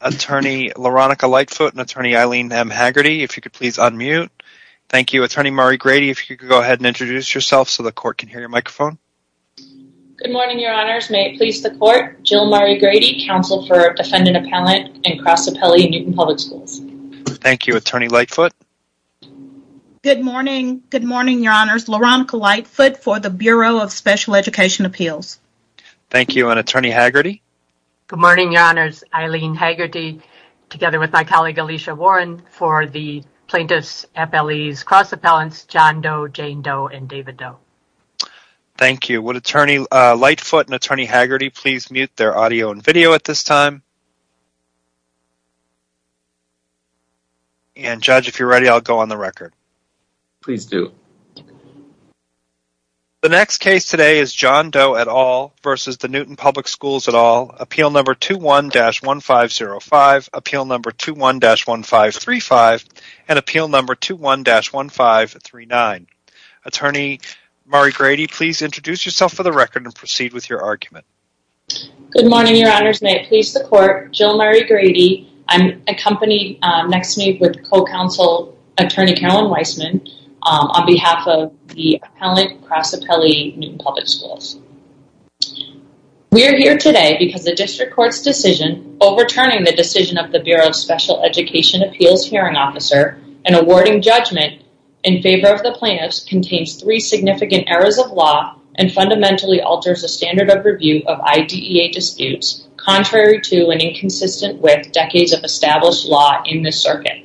Attorney Leronica Lightfoot and Attorney Eileen M. Haggerty, if you could please unmute. Thank you. Attorney Mari Grady, if you could go ahead and introduce yourself so the court can hear your microphone. Good morning, Your Honors. May it please the court, Jill Mari Grady, counsel for defendant appellant and Cross Appellee in Newton Public Schools. Thank you. Attorney Lightfoot. Good morning. Good morning, Your Honors. Leronica Lightfoot for the Bureau of Special Education Appeals. Thank you. And Attorney Haggerty. Good morning, Your Haggerty, together with my colleague Alicia Warren, for the plaintiffs' FLEs, Cross Appellants, John Doe, Jane Doe, and David Doe. Thank you. Would Attorney Lightfoot and Attorney Haggerty please mute their audio and video at this time? And, Judge, if you're ready, I'll go on the record. Please do. The next case today is John Doe et al. v. the Newton Public Schools et al. Appeal number 21-1560. Appeal number 21-1535 and Appeal number 21-1539. Attorney Mari Grady, please introduce yourself for the record and proceed with your argument. Good morning, Your Honors. May it please the court, Jill Mari Grady. I'm accompanied next to me with co-counsel, Attorney Carolyn Weissman, on behalf of the appellant, Cross Appellee, Newton Public Schools. We are here today because the District Court's decision overturning the decision of the Bureau of Special Education Appeals Hearing Officer and awarding judgment in favor of the plaintiffs contains three significant errors of law and fundamentally alters the standard of review of IDEA disputes, contrary to and inconsistent with decades of established law in this circuit.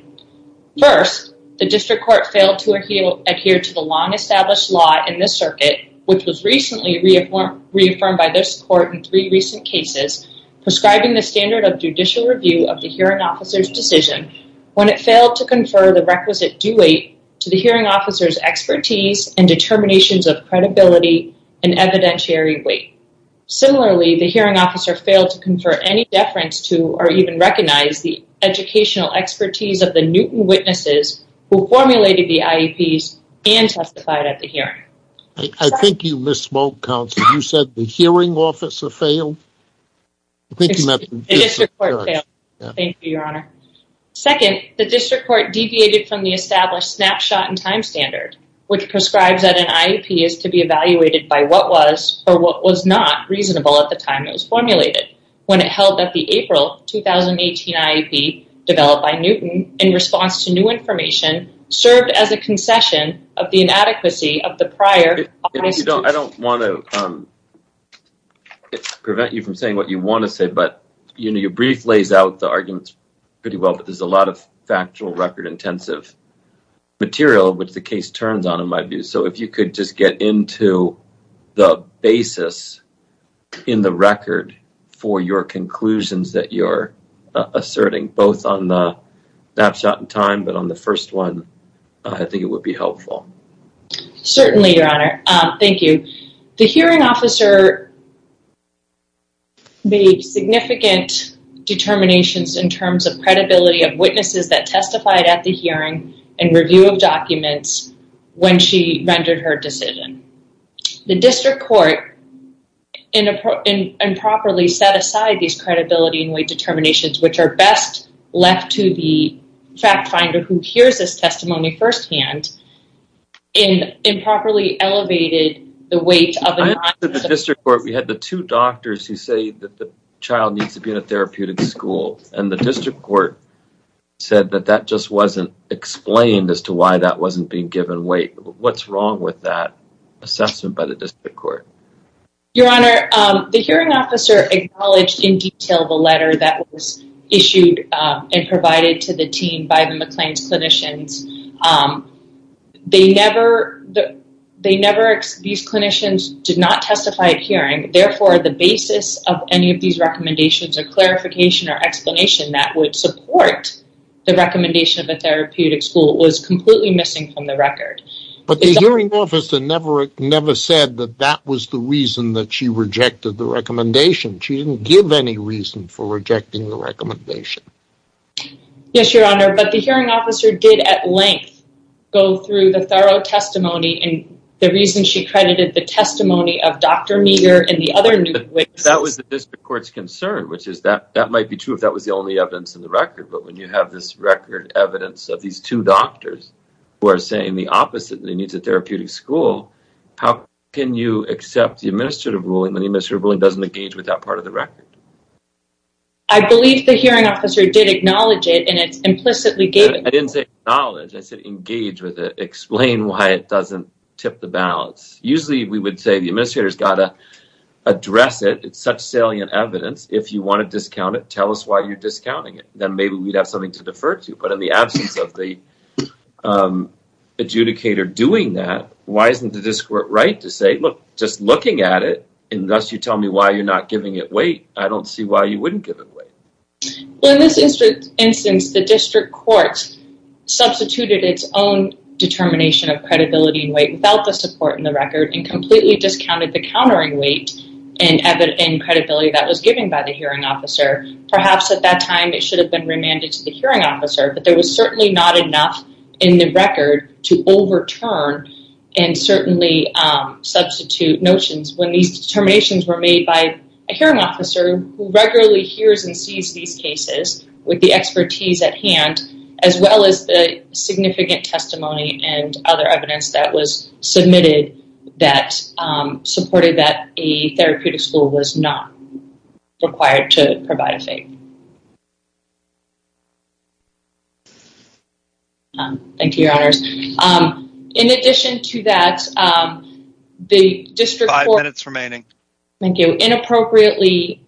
First, the District Court failed to adhere to the long-established law in this circuit, which was recently reaffirmed by this court in three recent cases, prescribing the standard of judicial review of the hearing officer's decision when it failed to confer the requisite due weight to the hearing officer's expertise and determinations of credibility and evidentiary weight. Similarly, the hearing officer failed to confer any deference to or even recognize the educational expertise of the Newton witnesses who formulated the IEPs and I think you misspoke, counsel. You said the hearing officer failed? The District Court failed. Thank you, Your Honor. Second, the District Court deviated from the established snapshot in time standard, which prescribes that an IEP is to be evaluated by what was or what was not reasonable at the time it was formulated when it held that the April 2018 IEP developed by Newton in response to new I don't want to prevent you from saying what you want to say, but you know your brief lays out the arguments pretty well, but there's a lot of factual record intensive material which the case turns on in my view, so if you could just get into the basis in the record for your conclusions that you're asserting, both on the snapshot in time but on the first one, I think it would be helpful. Certainly, Your Honor. Thank you. The hearing officer made significant determinations in terms of credibility of witnesses that testified at the hearing and review of documents when she rendered her decision. The District Court improperly set aside these credibility and weight determinations which are best left to the fact finder who hears this testimony firsthand and improperly elevated the weight of the district court. We had the two doctors who say that the child needs to be in a therapeutic school and the District Court said that that just wasn't explained as to why that wasn't being given weight. What's wrong with that assessment by the District Court? Your Honor, the hearing officer acknowledged in detail the letter that was issued and provided to the team by the McLean's clinicians. They never these clinicians did not testify at hearing, therefore the basis of any of these recommendations or clarification or explanation that would support the recommendation of a therapeutic school was completely missing from the record. But the hearing officer never said that that was the reason that she rejected the recommendation. Yes, Your Honor, but the hearing officer did at length go through the thorough testimony and the reason she credited the testimony of Dr. Meagher and the other new witnesses. That was the District Court's concern which is that that might be true if that was the only evidence in the record but when you have this record evidence of these two doctors who are saying the opposite they need a therapeutic school how can you accept the administrative ruling when the I believe the hearing officer did acknowledge it and it's implicitly gave I didn't say knowledge I said engage with it explain why it doesn't tip the balance usually we would say the administrators gotta address it it's such salient evidence if you want to discount it tell us why you're discounting it then maybe we'd have something to defer to you but in the absence of the adjudicator doing that why isn't the District Court right to say look just looking at it and thus you tell me why you're not giving it weight I don't see why you wouldn't give it weight. Well in this instance the District Court substituted its own determination of credibility and weight without the support in the record and completely discounted the countering weight and evident in credibility that was given by the hearing officer perhaps at that time it should have been remanded to the hearing officer but there was certainly not enough in the record to overturn and certainly substitute notions when these who regularly hears and sees these cases with the expertise at hand as well as the significant testimony and other evidence that was submitted that supported that a therapeutic school was not required to provide a fake. Thank you your honors. In addition to that the District Court. Five minutes remaining. Thank you. Inappropriately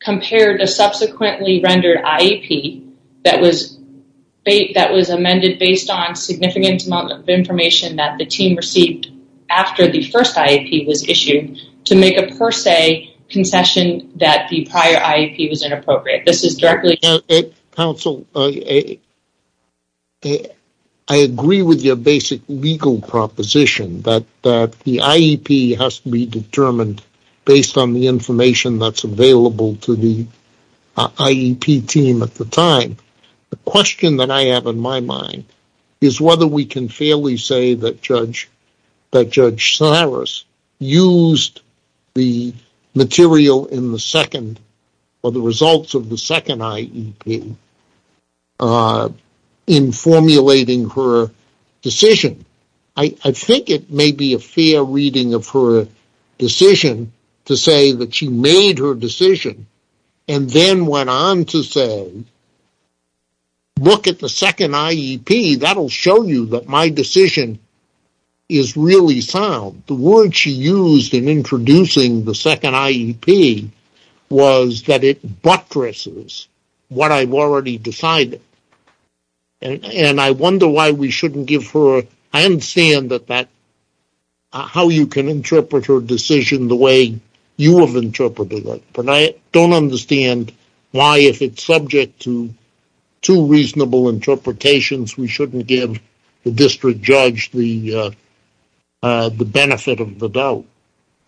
compared a subsequently rendered IEP that was amended based on significant amount of information that the team received after the first IEP was issued to make a per se concession that the prior IEP was inappropriate. This is directly. Counsel I agree with your basic legal proposition that that the IEP has to be determined based on the information that's available to the IEP team at the time. The question that I have in my mind is whether we can fairly say that judge that judge Cyrus used the material in the second or the results of the second IEP in formulating her decision. I think it may be a fair reading of her decision to say that she made her decision and then went on to say look at the second IEP that'll show you that my decision is really sound. The word she used in introducing the second IEP was that it buttresses what I've already decided and I wonder why we shouldn't give her I understand that that how you can interpret her decision the way you have interpreted it but I don't understand why if it's subject to two reasonable interpretations we shouldn't give the district judge the benefit of the doubt.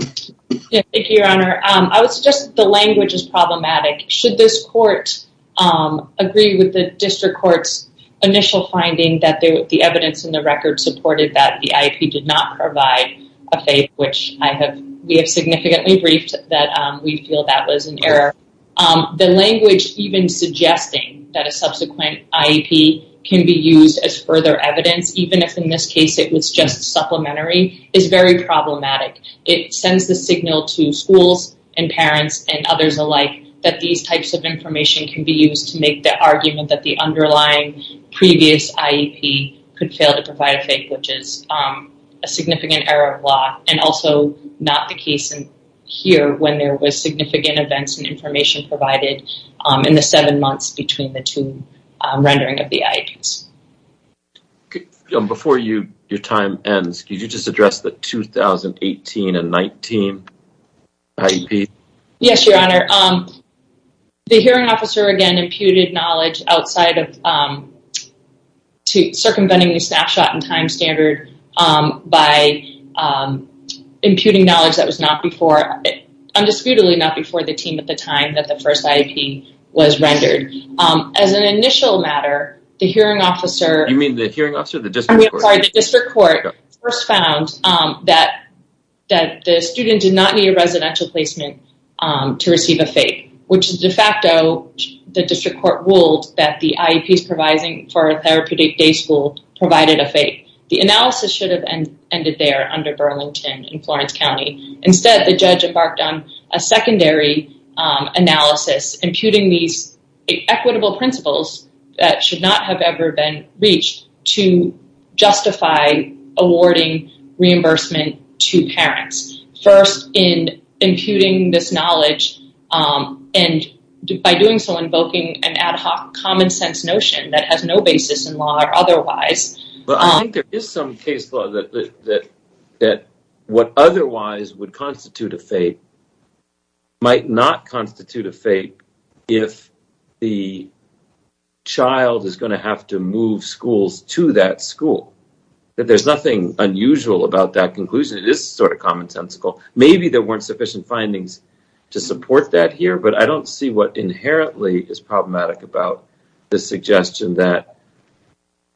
Thank you your honor. I would suggest the language is problematic should this court agree with the district courts initial finding that the evidence in the record supported that the IEP did not provide a faith which I have we have significantly briefed that we feel that was an error. The language even suggesting that a subsequent IEP can be used as further evidence even if in this case it was just supplementary is very problematic. It sends the signal to schools and parents and others alike that these types of information can be used to make the argument that the underlying previous IEP could fail to provide a faith which is a significant error of law and also not the case in here when there was significant events and information provided in the months between the two rendering of the IEPs. Before you your time ends could you just address the 2018 and 19 IEP? Yes your honor. The hearing officer again imputed knowledge outside of circumventing the snapshot in time standard by imputing knowledge that was not before undisputedly not before the team at the time that the first IEP was rendered. As an initial matter the hearing officer. You mean the hearing officer? The district court. The district court first found that that the student did not need a residential placement to receive a faith which is de facto the district court ruled that the IEPs providing for a therapeutic day school provided a faith. The analysis should have ended there under Burlington in Florence County. Instead the judge embarked on a secondary analysis imputing these equitable principles that should not have ever been reached to justify awarding reimbursement to parents. First in imputing this knowledge and by doing so invoking an ad hoc common-sense notion that has no basis in law or that what otherwise would constitute a faith might not constitute a faith if the child is going to have to move schools to that school. That there's nothing unusual about that conclusion it is sort of common-sensical. Maybe there weren't sufficient findings to support that here but I don't see what inherently is problematic about the suggestion that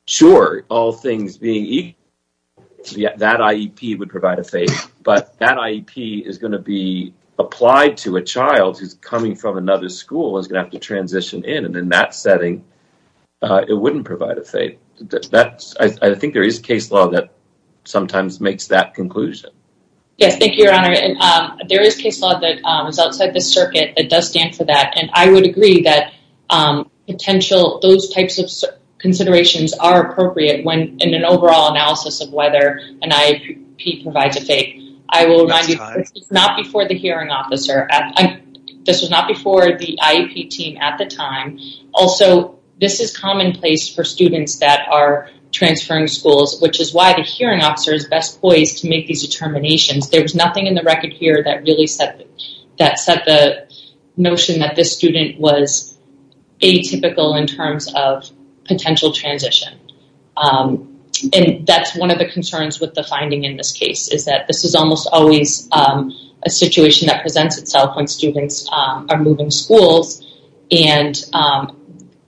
sure all things being equal that IEP would provide a faith but that IEP is going to be applied to a child who's coming from another school is gonna have to transition in and in that setting it wouldn't provide a faith. That's I think there is case law that sometimes makes that conclusion. Yes thank you your honor and there is case law that was outside the circuit that does stand for that and I would agree that potential those types of considerations are appropriate when in an overall analysis of whether an IEP provides a faith. I will remind you it's not before the hearing officer. This was not before the IEP team at the time. Also this is commonplace for students that are transferring schools which is why the hearing officer is best poised to make these determinations. There was nothing in the record here that really that set the notion that this student was atypical in terms of potential transition and that's one of the concerns with the finding in this case is that this is almost always a situation that presents itself when students are moving schools and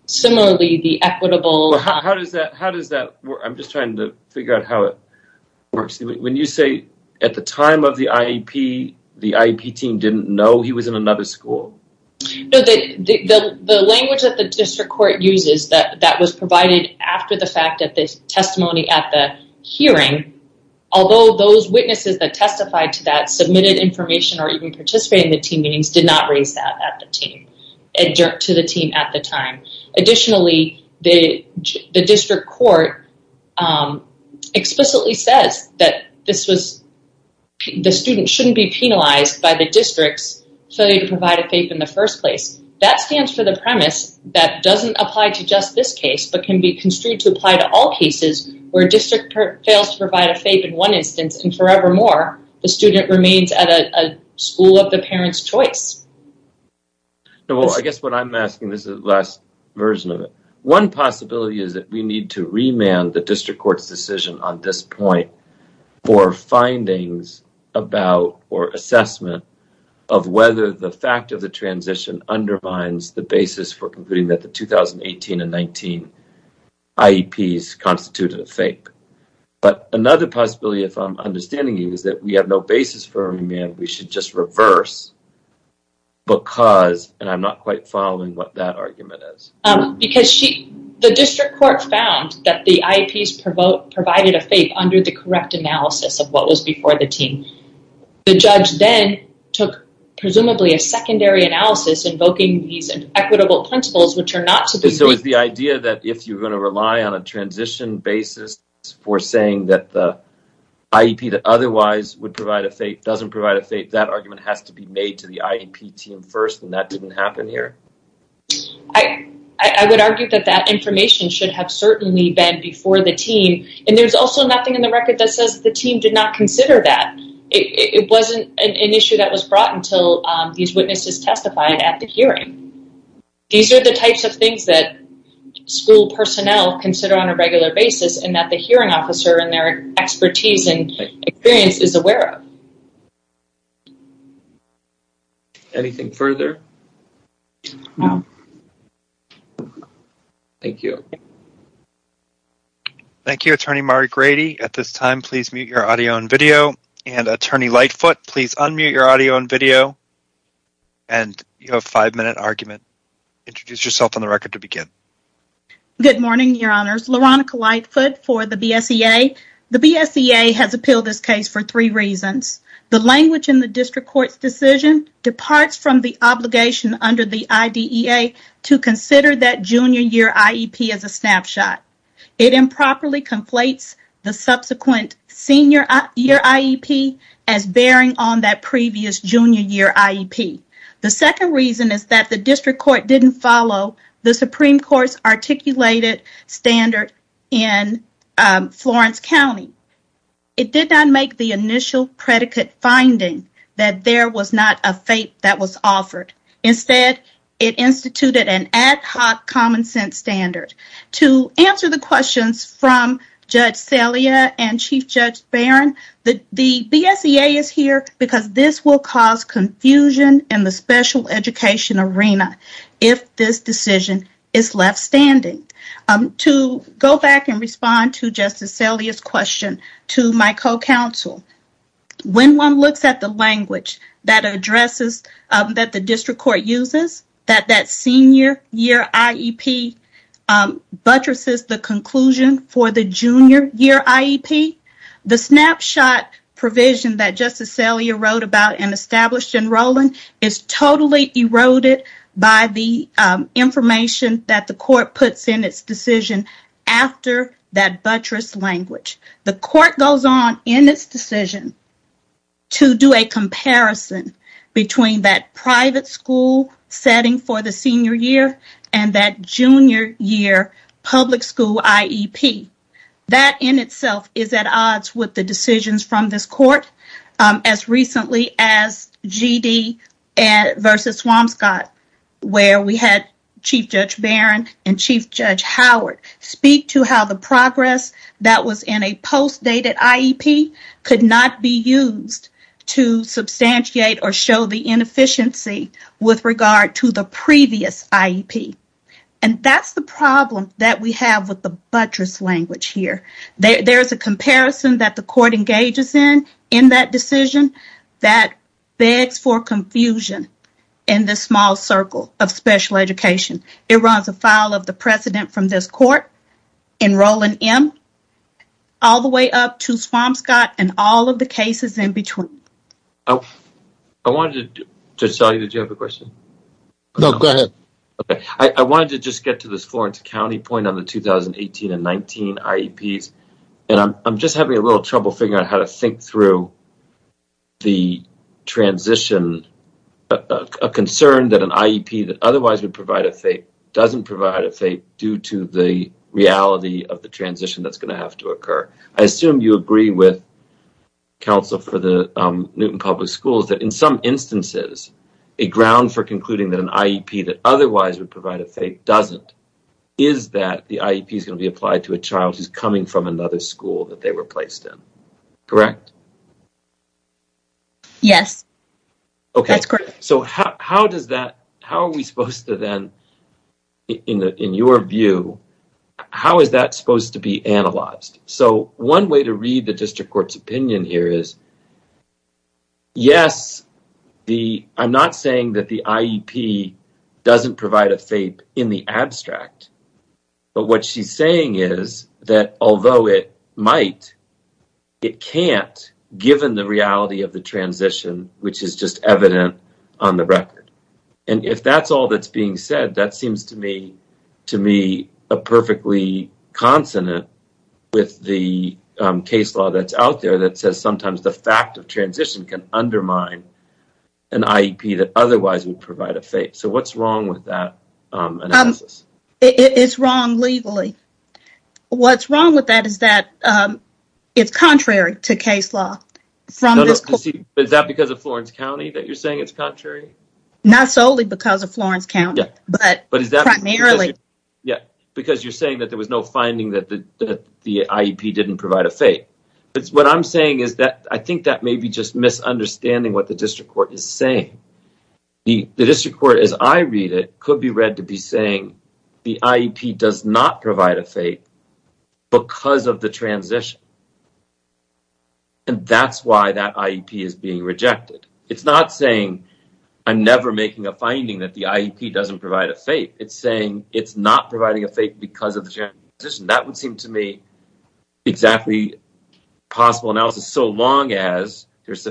similarly the equitable... How does that how does that I'm just trying to figure out how it works when you say at the time of the IEP the IEP team didn't know he was in another school? The language that the district court uses that that was provided after the fact that this testimony at the hearing although those witnesses that testified to that submitted information or even participate in the team meetings did not raise that to the team at the time. Additionally the district court explicitly says that this was the student shouldn't be penalized by the district's failure to provide a FAPE in the first place. That stands for the premise that doesn't apply to just this case but can be construed to apply to all cases where district fails to provide a FAPE in one instance and forevermore the student remains at a school of the parents choice. Well I guess what I'm asking this is the last version of it. One possibility is that we need to remand the district court's decision on this point for findings about or assessment of whether the fact of the transition undermines the basis for concluding that the 2018 and 19 IEPs constituted a FAPE. But another possibility if I'm understanding is that we have no basis for remand we should just reverse because and I'm not quite following what that argument is. Because the district court found that the IEPs provided a FAPE under the correct analysis of what was before the team. The judge then took presumably a secondary analysis invoking these and equitable principles which are not to be So is the idea that if you're going to rely on a transition basis for saying that the IEP that otherwise would provide a FAPE doesn't provide a FAPE that argument has to be made to the IEP team first and that didn't happen here? I would argue that that information should have certainly been before the team and there's also nothing in the record that says the team did not consider that. It wasn't an issue that was brought until these witnesses testified at the hearing. These are the types of things that school personnel consider on a regular basis and that the hearing officer and their expertise and experience is aware of. Anything further? No. Thank you. Thank you Attorney Mari Grady. At this time please mute your audio and video and Attorney Lightfoot please unmute your audio and video and you have a five-minute argument. Introduce yourself on the record to begin. Good morning your honors, Leronica Lightfoot for the BSEA. The BSEA has appealed this case for three reasons. The language in the district court's decision departs from the obligation under the IDEA to consider that junior year IEP as a snapshot. It improperly conflates the subsequent senior year IEP as bearing on that previous junior year IEP. The second reason is that the district court didn't follow the in Florence County. It did not make the initial predicate finding that there was not a fate that was offered. Instead it instituted an ad hoc common-sense standard. To answer the questions from Judge Celia and Chief Judge Barron, the the BSEA is here because this will cause confusion in the special education arena if this decision is left standing. To go back and respond to Justice Celia's question to my co-counsel, when one looks at the language that addresses that the district court uses, that that senior year IEP buttresses the conclusion for the junior year IEP, the snapshot provision that Justice Celia wrote about and established in Rowland is totally eroded by the information that the court puts in its decision after that buttress language. The court goes on in its decision to do a comparison between that private school setting for the senior year and that junior year public school IEP. That in itself is at odds with the past GD versus Swanscott where we had Chief Judge Barron and Chief Judge Howard speak to how the progress that was in a post-dated IEP could not be used to substantiate or show the inefficiency with regard to the previous IEP. And that's the problem that we have with the buttress language here. There begs for confusion in this small circle of special education. It runs afoul of the precedent from this court in Rowland M. all the way up to Swanscott and all of the cases in between. I wanted to just get to this Florence County point on the 2018 and 19 IEPs and I'm just having a little trouble figuring out how to think through the transition, a concern that an IEP that otherwise would provide a fate doesn't provide a fate due to the reality of the transition that's going to have to occur. I assume you agree with counsel for the Newton Public Schools that in some instances a ground for concluding that an IEP that otherwise would provide a fate doesn't is that the IEP is going to be applied to a child who's coming from another school that correct yes okay so how does that how are we supposed to then in the in your view how is that supposed to be analyzed so one way to read the district court's opinion here is yes the I'm not saying that the IEP doesn't provide a fate in the abstract but what she's saying is that although it might it can't given the reality of the transition which is just evident on the record and if that's all that's being said that seems to me to me a perfectly consonant with the case law that's out there that says sometimes the fact of transition can undermine an IEP that otherwise would provide a fate so what's wrong with that it's wrong legally what's wrong with that is that it's contrary to case law from this is that because of Florence County that you're saying it's contrary not solely because of Florence County but primarily yeah because you're saying that there was no finding that the the IEP didn't provide a fate it's what I'm saying is that I think that may be just misunderstanding what the district court is saying the district court as I read it could be read to be saying the IEP does not provide a fate because of the transition and that's why that IEP is being rejected it's not saying I'm never making a finding that the IEP doesn't provide a fate it's saying it's not providing a fate because of the transition that would seem to me exactly possible analysis so long as there's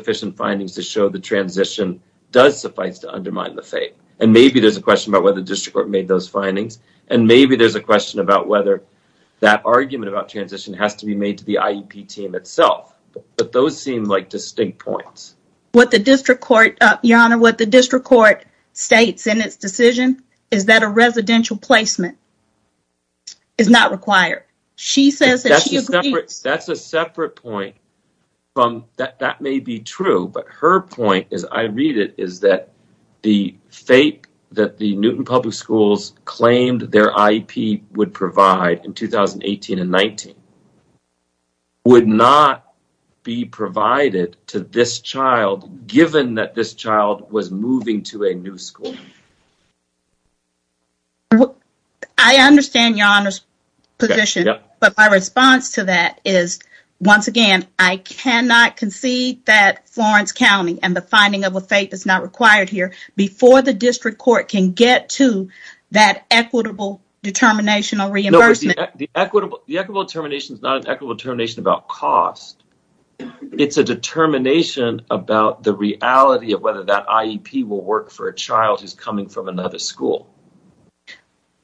transition does suffice to undermine the fate and maybe there's a question about whether the district court made those findings and maybe there's a question about whether that argument about transition has to be made to the IEP team itself but those seem like distinct points what the district court your honor what the district court states in its decision is that a residential placement is not required she says that's a separate point from that may be true but her point is I read it is that the fate that the Newton Public Schools claimed their IEP would provide in 2018 and 19 would not be provided to this child given that this child was moving to a new school I understand your honor's position but my response to that is once again I cannot concede that Florence County and the finding of a faith is not required here before the district court can get to that equitable determination or reimbursement the equitable the equitable termination is not an equitable termination about cost it's a determination about the reality of whether that IEP will work for a child who's coming from another school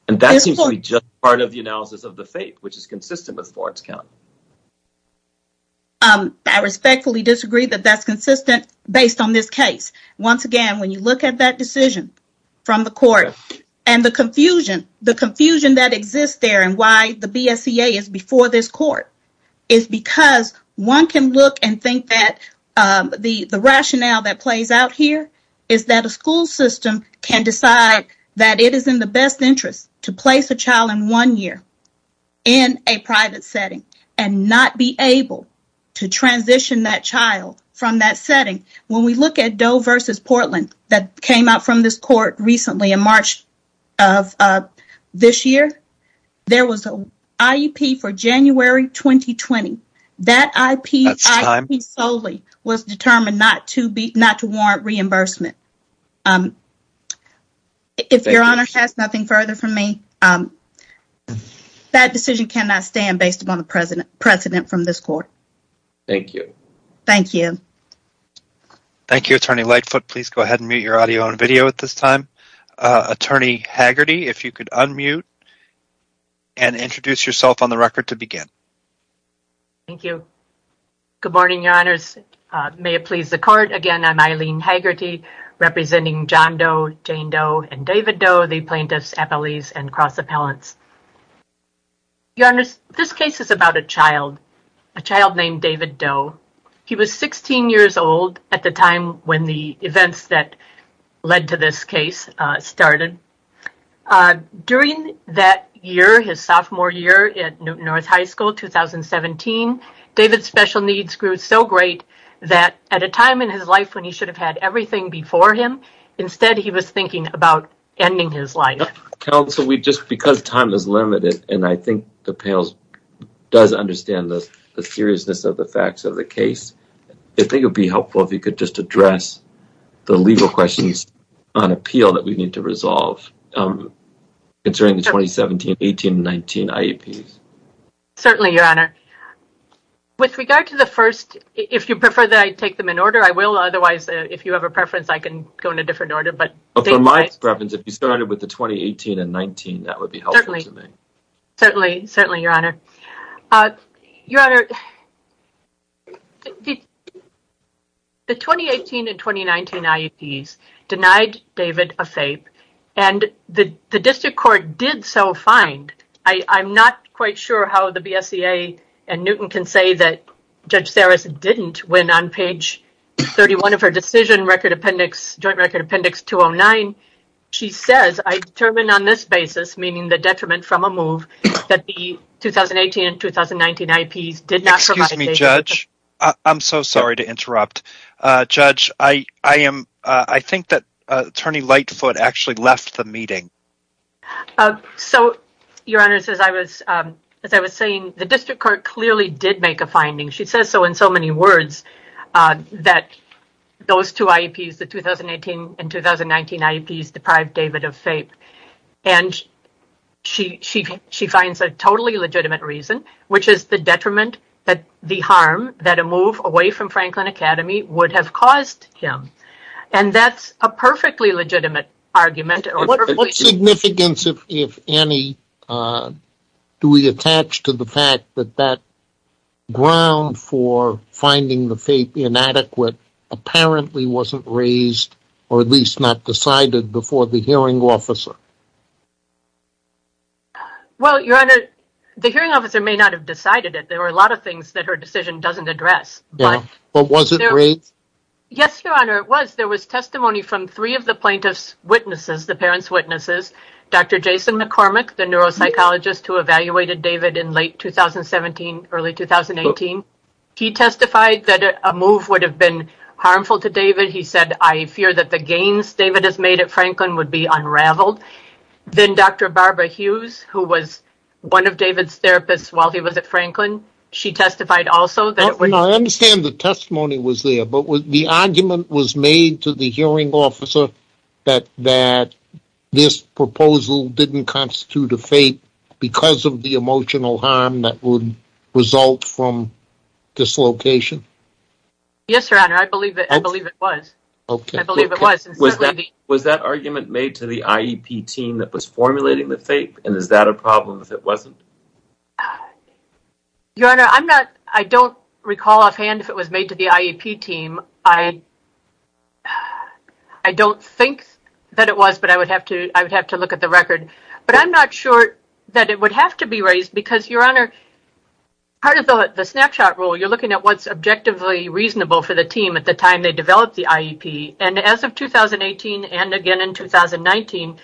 and that seems to be just part of the analysis of the faith which is disagree that that's consistent based on this case once again when you look at that decision from the court and the confusion the confusion that exists there and why the BSEA is before this court is because one can look and think that the the rationale that plays out here is that a school system can decide that it is in the best interest to place a child in one year in a private setting and not be able to transition that child from that setting when we look at Doe versus Portland that came out from this court recently in March of this year there was a IEP for January 2020 that IP solely was determined not to be not to warrant reimbursement if your honor has nothing further from me that decision cannot stand based upon the president precedent from this court thank you thank you thank you attorney Lightfoot please go ahead and meet your audio on video at this time attorney Haggerty if you could unmute and introduce yourself on the record to begin thank you good morning your honors may it please the court again I'm Eileen Haggerty representing John Doe Jane Doe and David Doe the plaintiffs appellees and cross appellants your honors this case is about a child a child named David Doe he was 16 years old at the time when the events that led to this case started during that year his sophomore year at Newton North High School 2017 David's special needs grew so great that at a time in his life when he should have had everything before him instead he was thinking about ending his life council we just because time is limited and I think the pails does understand this the seriousness of the facts of the case I think it'd be helpful if you could just address the legal questions on appeal that we need to resolve concerning the 2017 1819 IEP certainly your honor with regard to the first if you prefer that I take them in otherwise if you have a preference I can go in a different order but my preference if you started with the 2018 and 19 that would be helpful to me certainly certainly your honor your honor the 2018 and 2019 IEPs denied David a fape and the the district court did so find I I'm not quite sure how the appendix joint record appendix 209 she says I determined on this basis meaning the detriment from a move that the 2018 and 2019 IEPs did not excuse me judge I'm so sorry to interrupt judge I I am I think that attorney Lightfoot actually left the meeting so your honor says I was as I was saying the district court clearly did make a finding she says so in so many words that those two IEPs the 2018 and 2019 IEPs deprived David of faith and she she she finds a totally legitimate reason which is the detriment that the harm that a move away from Franklin Academy would have caused him and that's a perfectly legitimate argument if any do we attach to the fact that that ground for finding the faith inadequate apparently wasn't raised or at least not decided before the hearing officer well your honor the hearing officer may not have decided it there are a lot of things that her decision doesn't address but what was it yes your honor it was there was testimony from three of the plaintiffs witnesses the parents witnesses dr. Jason McCormick the neuropsychologist who evaluated David in late 2017 early 2018 he testified that a move would have been harmful to David he said I fear that the gains David has made at Franklin would be unraveled then dr. Barbara Hughes who was one of David's therapists while he was at Franklin she testified also that when I understand the testimony was there but with the argument was made to the hearing officer that that this proposal didn't constitute a fate because of the emotional harm that would result from dislocation yes your honor I believe it I believe it was okay I believe it wasn't was that was that argument made to the IEP team that was formulating the fate and is that a problem if it wasn't your honor I'm not I don't recall offhand if it was made to the IEP team I I don't think that it was but I would have to I would have to look at the record but I'm not sure that it would have to be raised because your honor part of the snapshot rule you're looking at what's objectively reasonable for the team at the time they developed the IEP and as of 2018 and again in 2019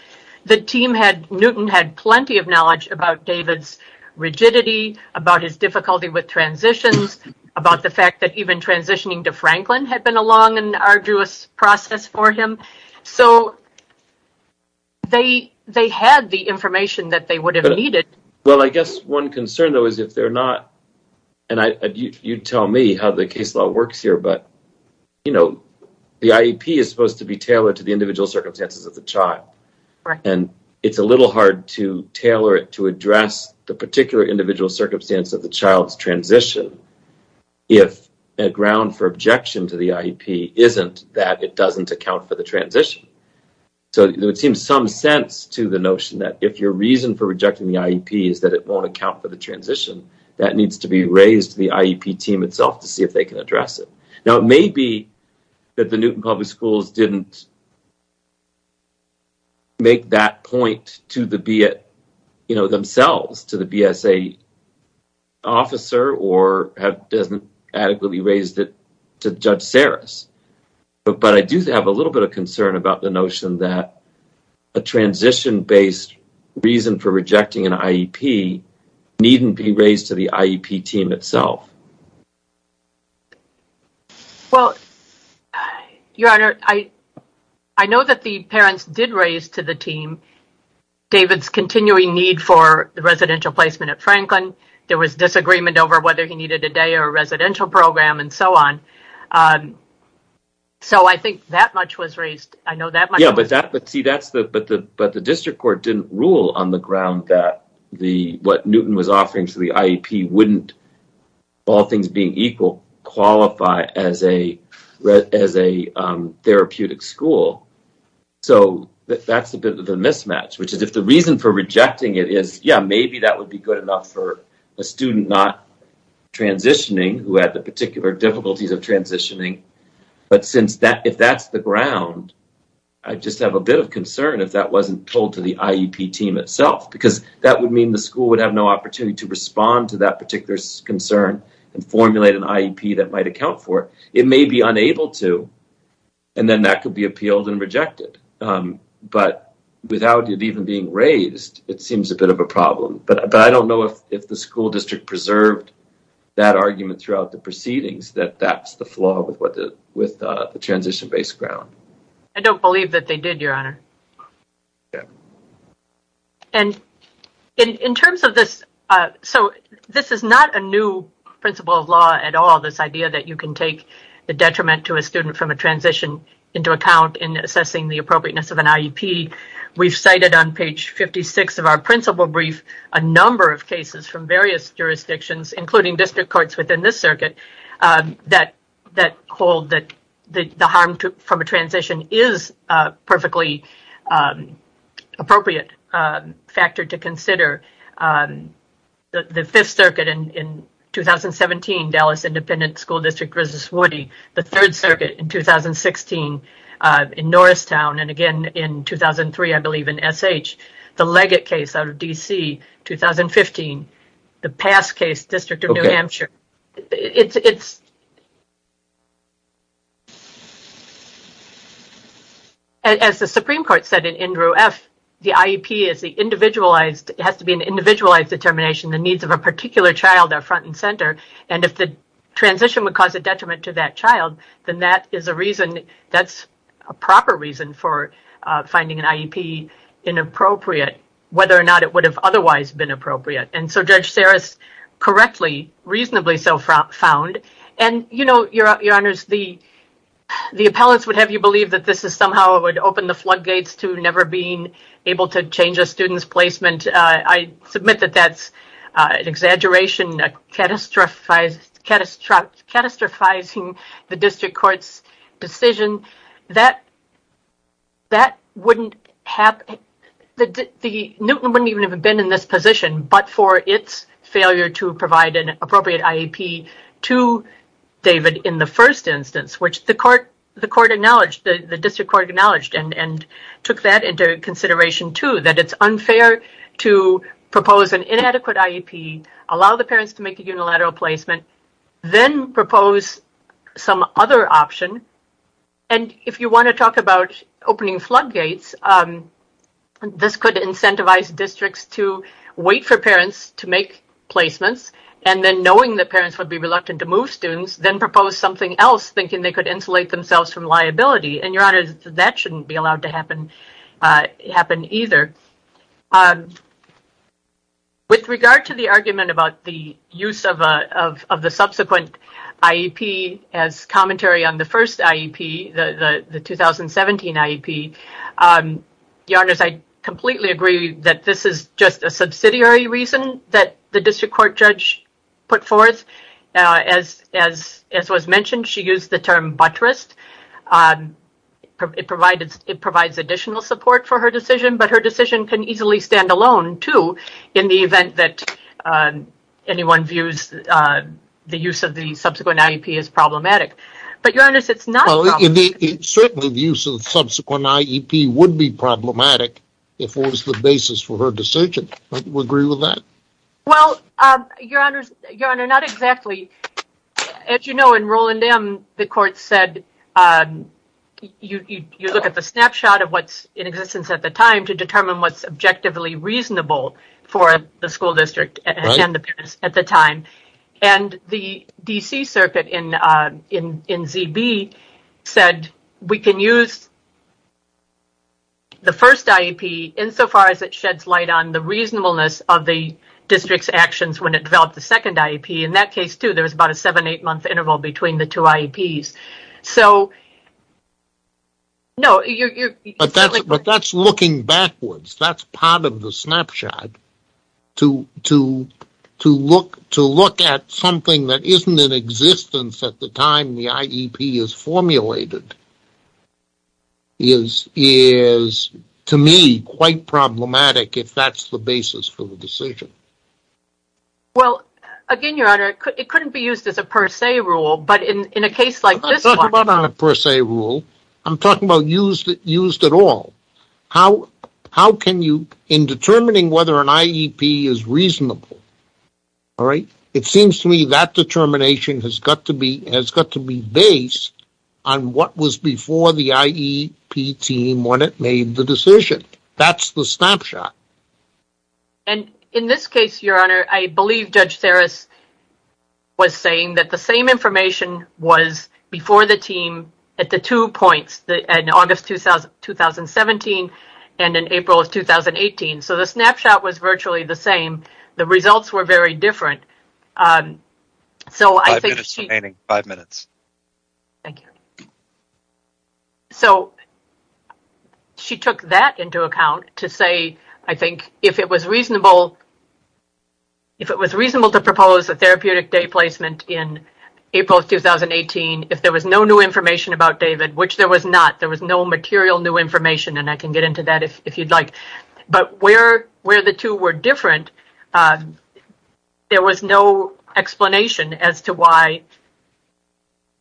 the team had Newton had plenty of knowledge about David's rigidity about his difficulty with transitions about the fact that even transitioning to Franklin had been a long and arduous process for him so they they had the information that they would have needed well I guess one concern though is if they're not and I you'd tell me how the case law works here but you know the IEP is supposed to be tailored to the individual circumstances of the child and it's a little hard to tailor it to address the particular individual circumstance of the child's transition if a ground for objection to the IEP isn't that it doesn't account for the transition so it seems some sense to the notion that if your reason for rejecting the IEP is that it won't account for the transition that needs to be raised the IEP team itself to see if they can address it now it may be that the Newton public schools didn't make that point to the be it you know themselves to the BSA officer or have doesn't adequately raised it to judge Saris but but I do have a little bit of concern about the notion that a transition based reason for rejecting an IEP team itself well your honor I I know that the parents did raise to the team David's continuing need for the residential placement at Franklin there was disagreement over whether he needed a day or a residential program and so on so I think that much was raised I know that yeah but that but see that's the but the but the district court didn't rule on the ground that the what Newton was offering to the IEP wouldn't all things being equal qualify as a as a therapeutic school so that's a bit of a mismatch which is if the reason for rejecting it is yeah maybe that would be good enough for a student not transitioning who had the particular difficulties of transitioning but since that if that's the ground I just have a bit of concern if that wasn't told to the IEP team itself because that would mean the school would have no opportunity to respond to that particular concern and formulate an IEP that might account for it may be unable to and then that could be appealed and rejected but without it even being raised it seems a bit of a problem but I don't know if if the school district preserved that argument throughout the proceedings that that's the flaw with what with the transition based ground I in terms of this so this is not a new principle of law at all this idea that you can take the detriment to a student from a transition into account in assessing the appropriateness of an IEP we've cited on page 56 of our principal brief a number of cases from various jurisdictions including district courts within this circuit that that hold that the harm to from a transition is perfectly appropriate factor to consider the Fifth Circuit and in 2017 Dallas Independent School District versus Woody the Third Circuit in 2016 in Norristown and again in 2003 I believe in SH the Leggett case out of DC 2015 the past case District of New Hampshire it's as the Supreme Court said in Andrew F the IEP is the individualized it has to be an individualized determination the needs of a particular child are front and center and if the transition would cause a detriment to that child then that is a reason that's a proper reason for finding an IEP inappropriate whether or not it would have otherwise been appropriate and so Judge Saris correctly reasonably so far found and you know your honors the the appellants would have you believe that this is somehow it would open the floodgates to never being able to change a student's placement I submit that that's an exaggeration a catastrophic catastrophic catastrophizing the district courts decision that that wouldn't have the Newton wouldn't even have been in this position but for its failure to provide an appropriate IEP to David in the first instance which the court the court acknowledged the district court acknowledged and and took that into consideration to that it's unfair to propose an inadequate IEP allow the parents to make a unilateral placement then propose some other option and if you want to talk about opening floodgates this could incentivize districts to wait for parents to make placements and then knowing that parents would be reluctant to move students then propose something else thinking they could insulate themselves from liability and your honor that shouldn't be allowed to happen it happened either with regard to the argument about the use of the subsequent IEP as commentary on the first IEP the the 2017 IEP your honors I completely agree that this is just a was mentioned she used the term buttressed it provided it provides additional support for her decision but her decision can easily stand alone too in the event that anyone views the use of the subsequent IEP is problematic but your honor sits not only in the certainly the use of subsequent IEP would be problematic if it was the basis for her decision but we agree with that well your honors your honor not exactly as you know in Roland M the court said you look at the snapshot of what's in existence at the time to determine what's objectively reasonable for the school district and the parents at the time and the DC circuit in in in ZB said we can use the first IEP insofar as it sheds light on the reasonableness of the district's actions when it developed the second IEP in that case too there was about a seven eight month interval between the two IEPs so no but that's looking backwards that's part of the snapshot to to to look to look at something that isn't in existence at the time the IEP is formulated is is to me quite problematic if that's the basis for the decision well again your honor it couldn't be used as a per se rule but in in a case like a per se rule I'm talking about used used at all how how can you in determining whether an IEP is reasonable all right it seems to me that to be based on what was before the IEP team when it made the decision that's the snapshot and in this case your honor I believe Judge Saris was saying that the same information was before the team at the two points that in August 2000 2017 and in April of 2018 so the snapshot was virtually the same the thank you so she took that into account to say I think if it was reasonable if it was reasonable to propose a therapeutic day placement in April 2018 if there was no new information about David which there was not there was no material new information and I can get into that if you'd like but where where the two were different there was no explanation as to why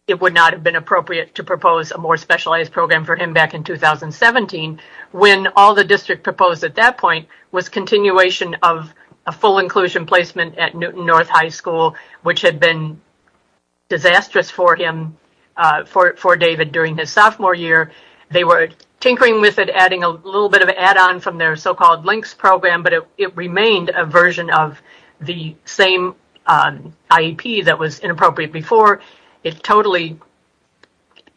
it would not have been appropriate to propose a more specialized program for him back in 2017 when all the district proposed at that point was continuation of a full inclusion placement at Newton North High School which had been disastrous for him for it for David during his sophomore year they were tinkering with it adding a little bit of an add-on from their so-called links program but it remained a version of the same IEP that was inappropriate before it totally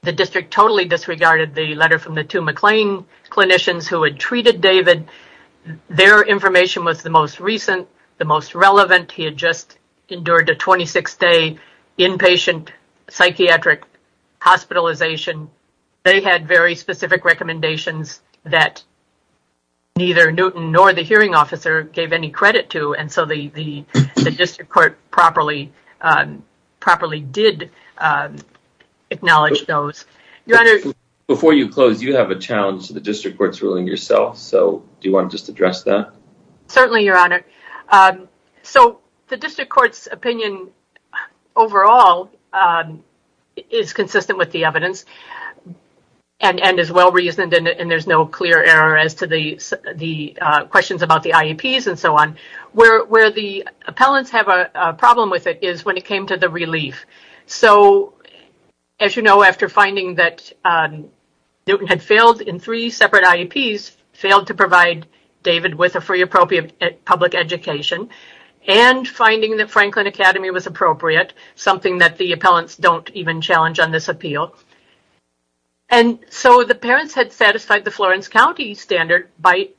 the district totally disregarded the letter from the two McLean clinicians who had treated David their information was the most recent the most relevant he had just endured a 26-day inpatient psychiatric hospitalization they had very specific recommendations that neither Newton nor the hearing officer gave any credit to and so the district court properly properly did acknowledge those your honor before you close you have a challenge to the district courts ruling yourself so do you want to just address that certainly your honor so the well-reasoned and there's no clear error as to the the questions about the IEPs and so on where the appellants have a problem with it is when it came to the relief so as you know after finding that Newton had failed in three separate IEPs failed to provide David with a free appropriate public education and finding that Franklin Academy was appropriate something that the appellants don't even challenge on this appeal and so the parents had satisfied the Florence County standard by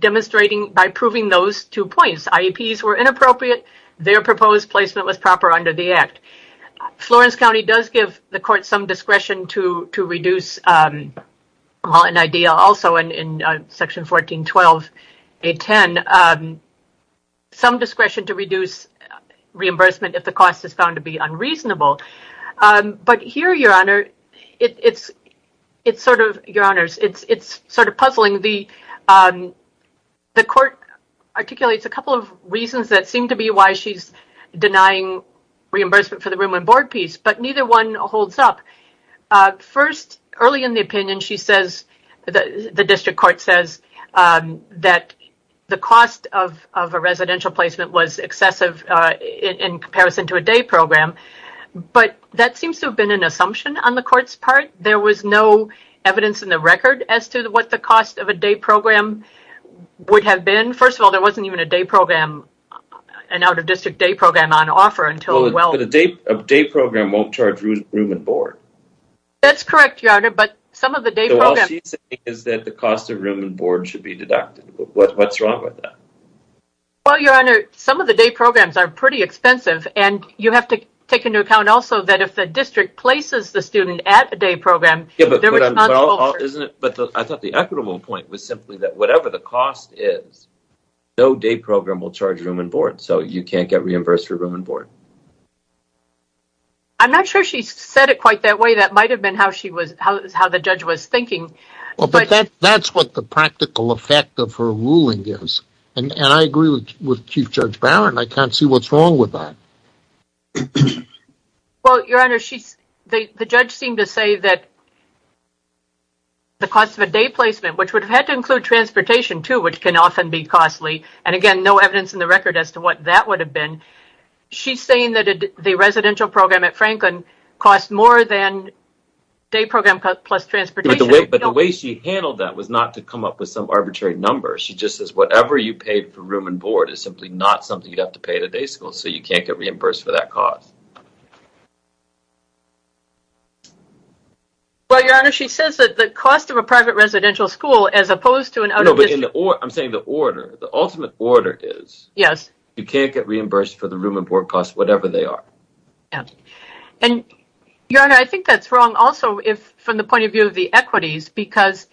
demonstrating by proving those two points IEPs were inappropriate their proposed placement was proper under the Act Florence County does give the court some discretion to to reduce an idea also in section 14 12 a 10 some discretion to reduce reimbursement if the cost is found to be unreasonable but here your honor it's it's sort of your honors it's it's sort of puzzling the the court articulates a couple of reasons that seem to be why she's denying reimbursement for the room and board piece but neither one holds up first early in the opinion she says the district court says that the cost of a but that seems to have been an assumption on the court's part there was no evidence in the record as to what the cost of a day program would have been first of all there wasn't even a day program an out-of-district day program on offer until well the date update program won't charge room and board that's correct your honor but some of the day is that the cost of room and board should be deducted what's wrong with that well your honor some of the day programs are pretty expensive and you have to take into account also that if the district places the student at a day program isn't it but I thought the equitable point was simply that whatever the cost is no day program will charge room and board so you can't get reimbursed for room and board I'm not sure she said it quite that way that might have been how she was how the judge was thinking well but that that's what the practical effect of her ruling gives and I agree with Chief Judge Barron I can't see what's wrong with that well your honor she's the judge seemed to say that the cost of a day placement which would have had to include transportation to which can often be costly and again no evidence in the record as to what that would have been she's saying that the residential program at Franklin cost more than day program plus transportation but the way she handled that was not to come up with some arbitrary number she just says whatever you paid for room and board is simply not something you'd have to pay the day school so you can't get reimbursed for that cost well your honor she says that the cost of a private residential school as opposed to an out of it or I'm saying the order the ultimate order is yes you can't get reimbursed for the room and board cost whatever they are and your honor I think that's wrong also if from the point of view of the equities because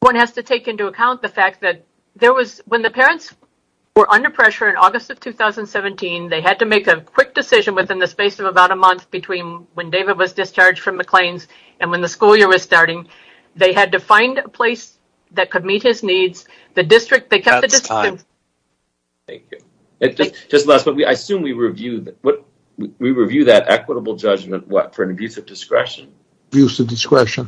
one has to take into account the fact that there was when the parents were under pressure in August of 2017 they had to make a quick decision within the space of about a month between when David was discharged from the claims and when the school year was starting they had to find a place that could meet his needs the district they kept it just last but we I assume we reviewed what we review that equitable judgment what for an abuse of discretion use the discretion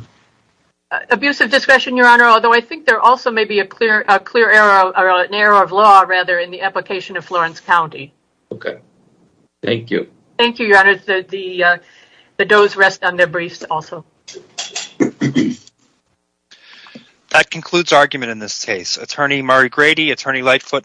abuse of discretion your honor although I think there also may be a clear a clear arrow or an arrow of law rather in the application of Florence County okay thank you thank you your honor the the does rest on their briefs also that concludes argument in this case attorney Murray Grady attorney Lightfoot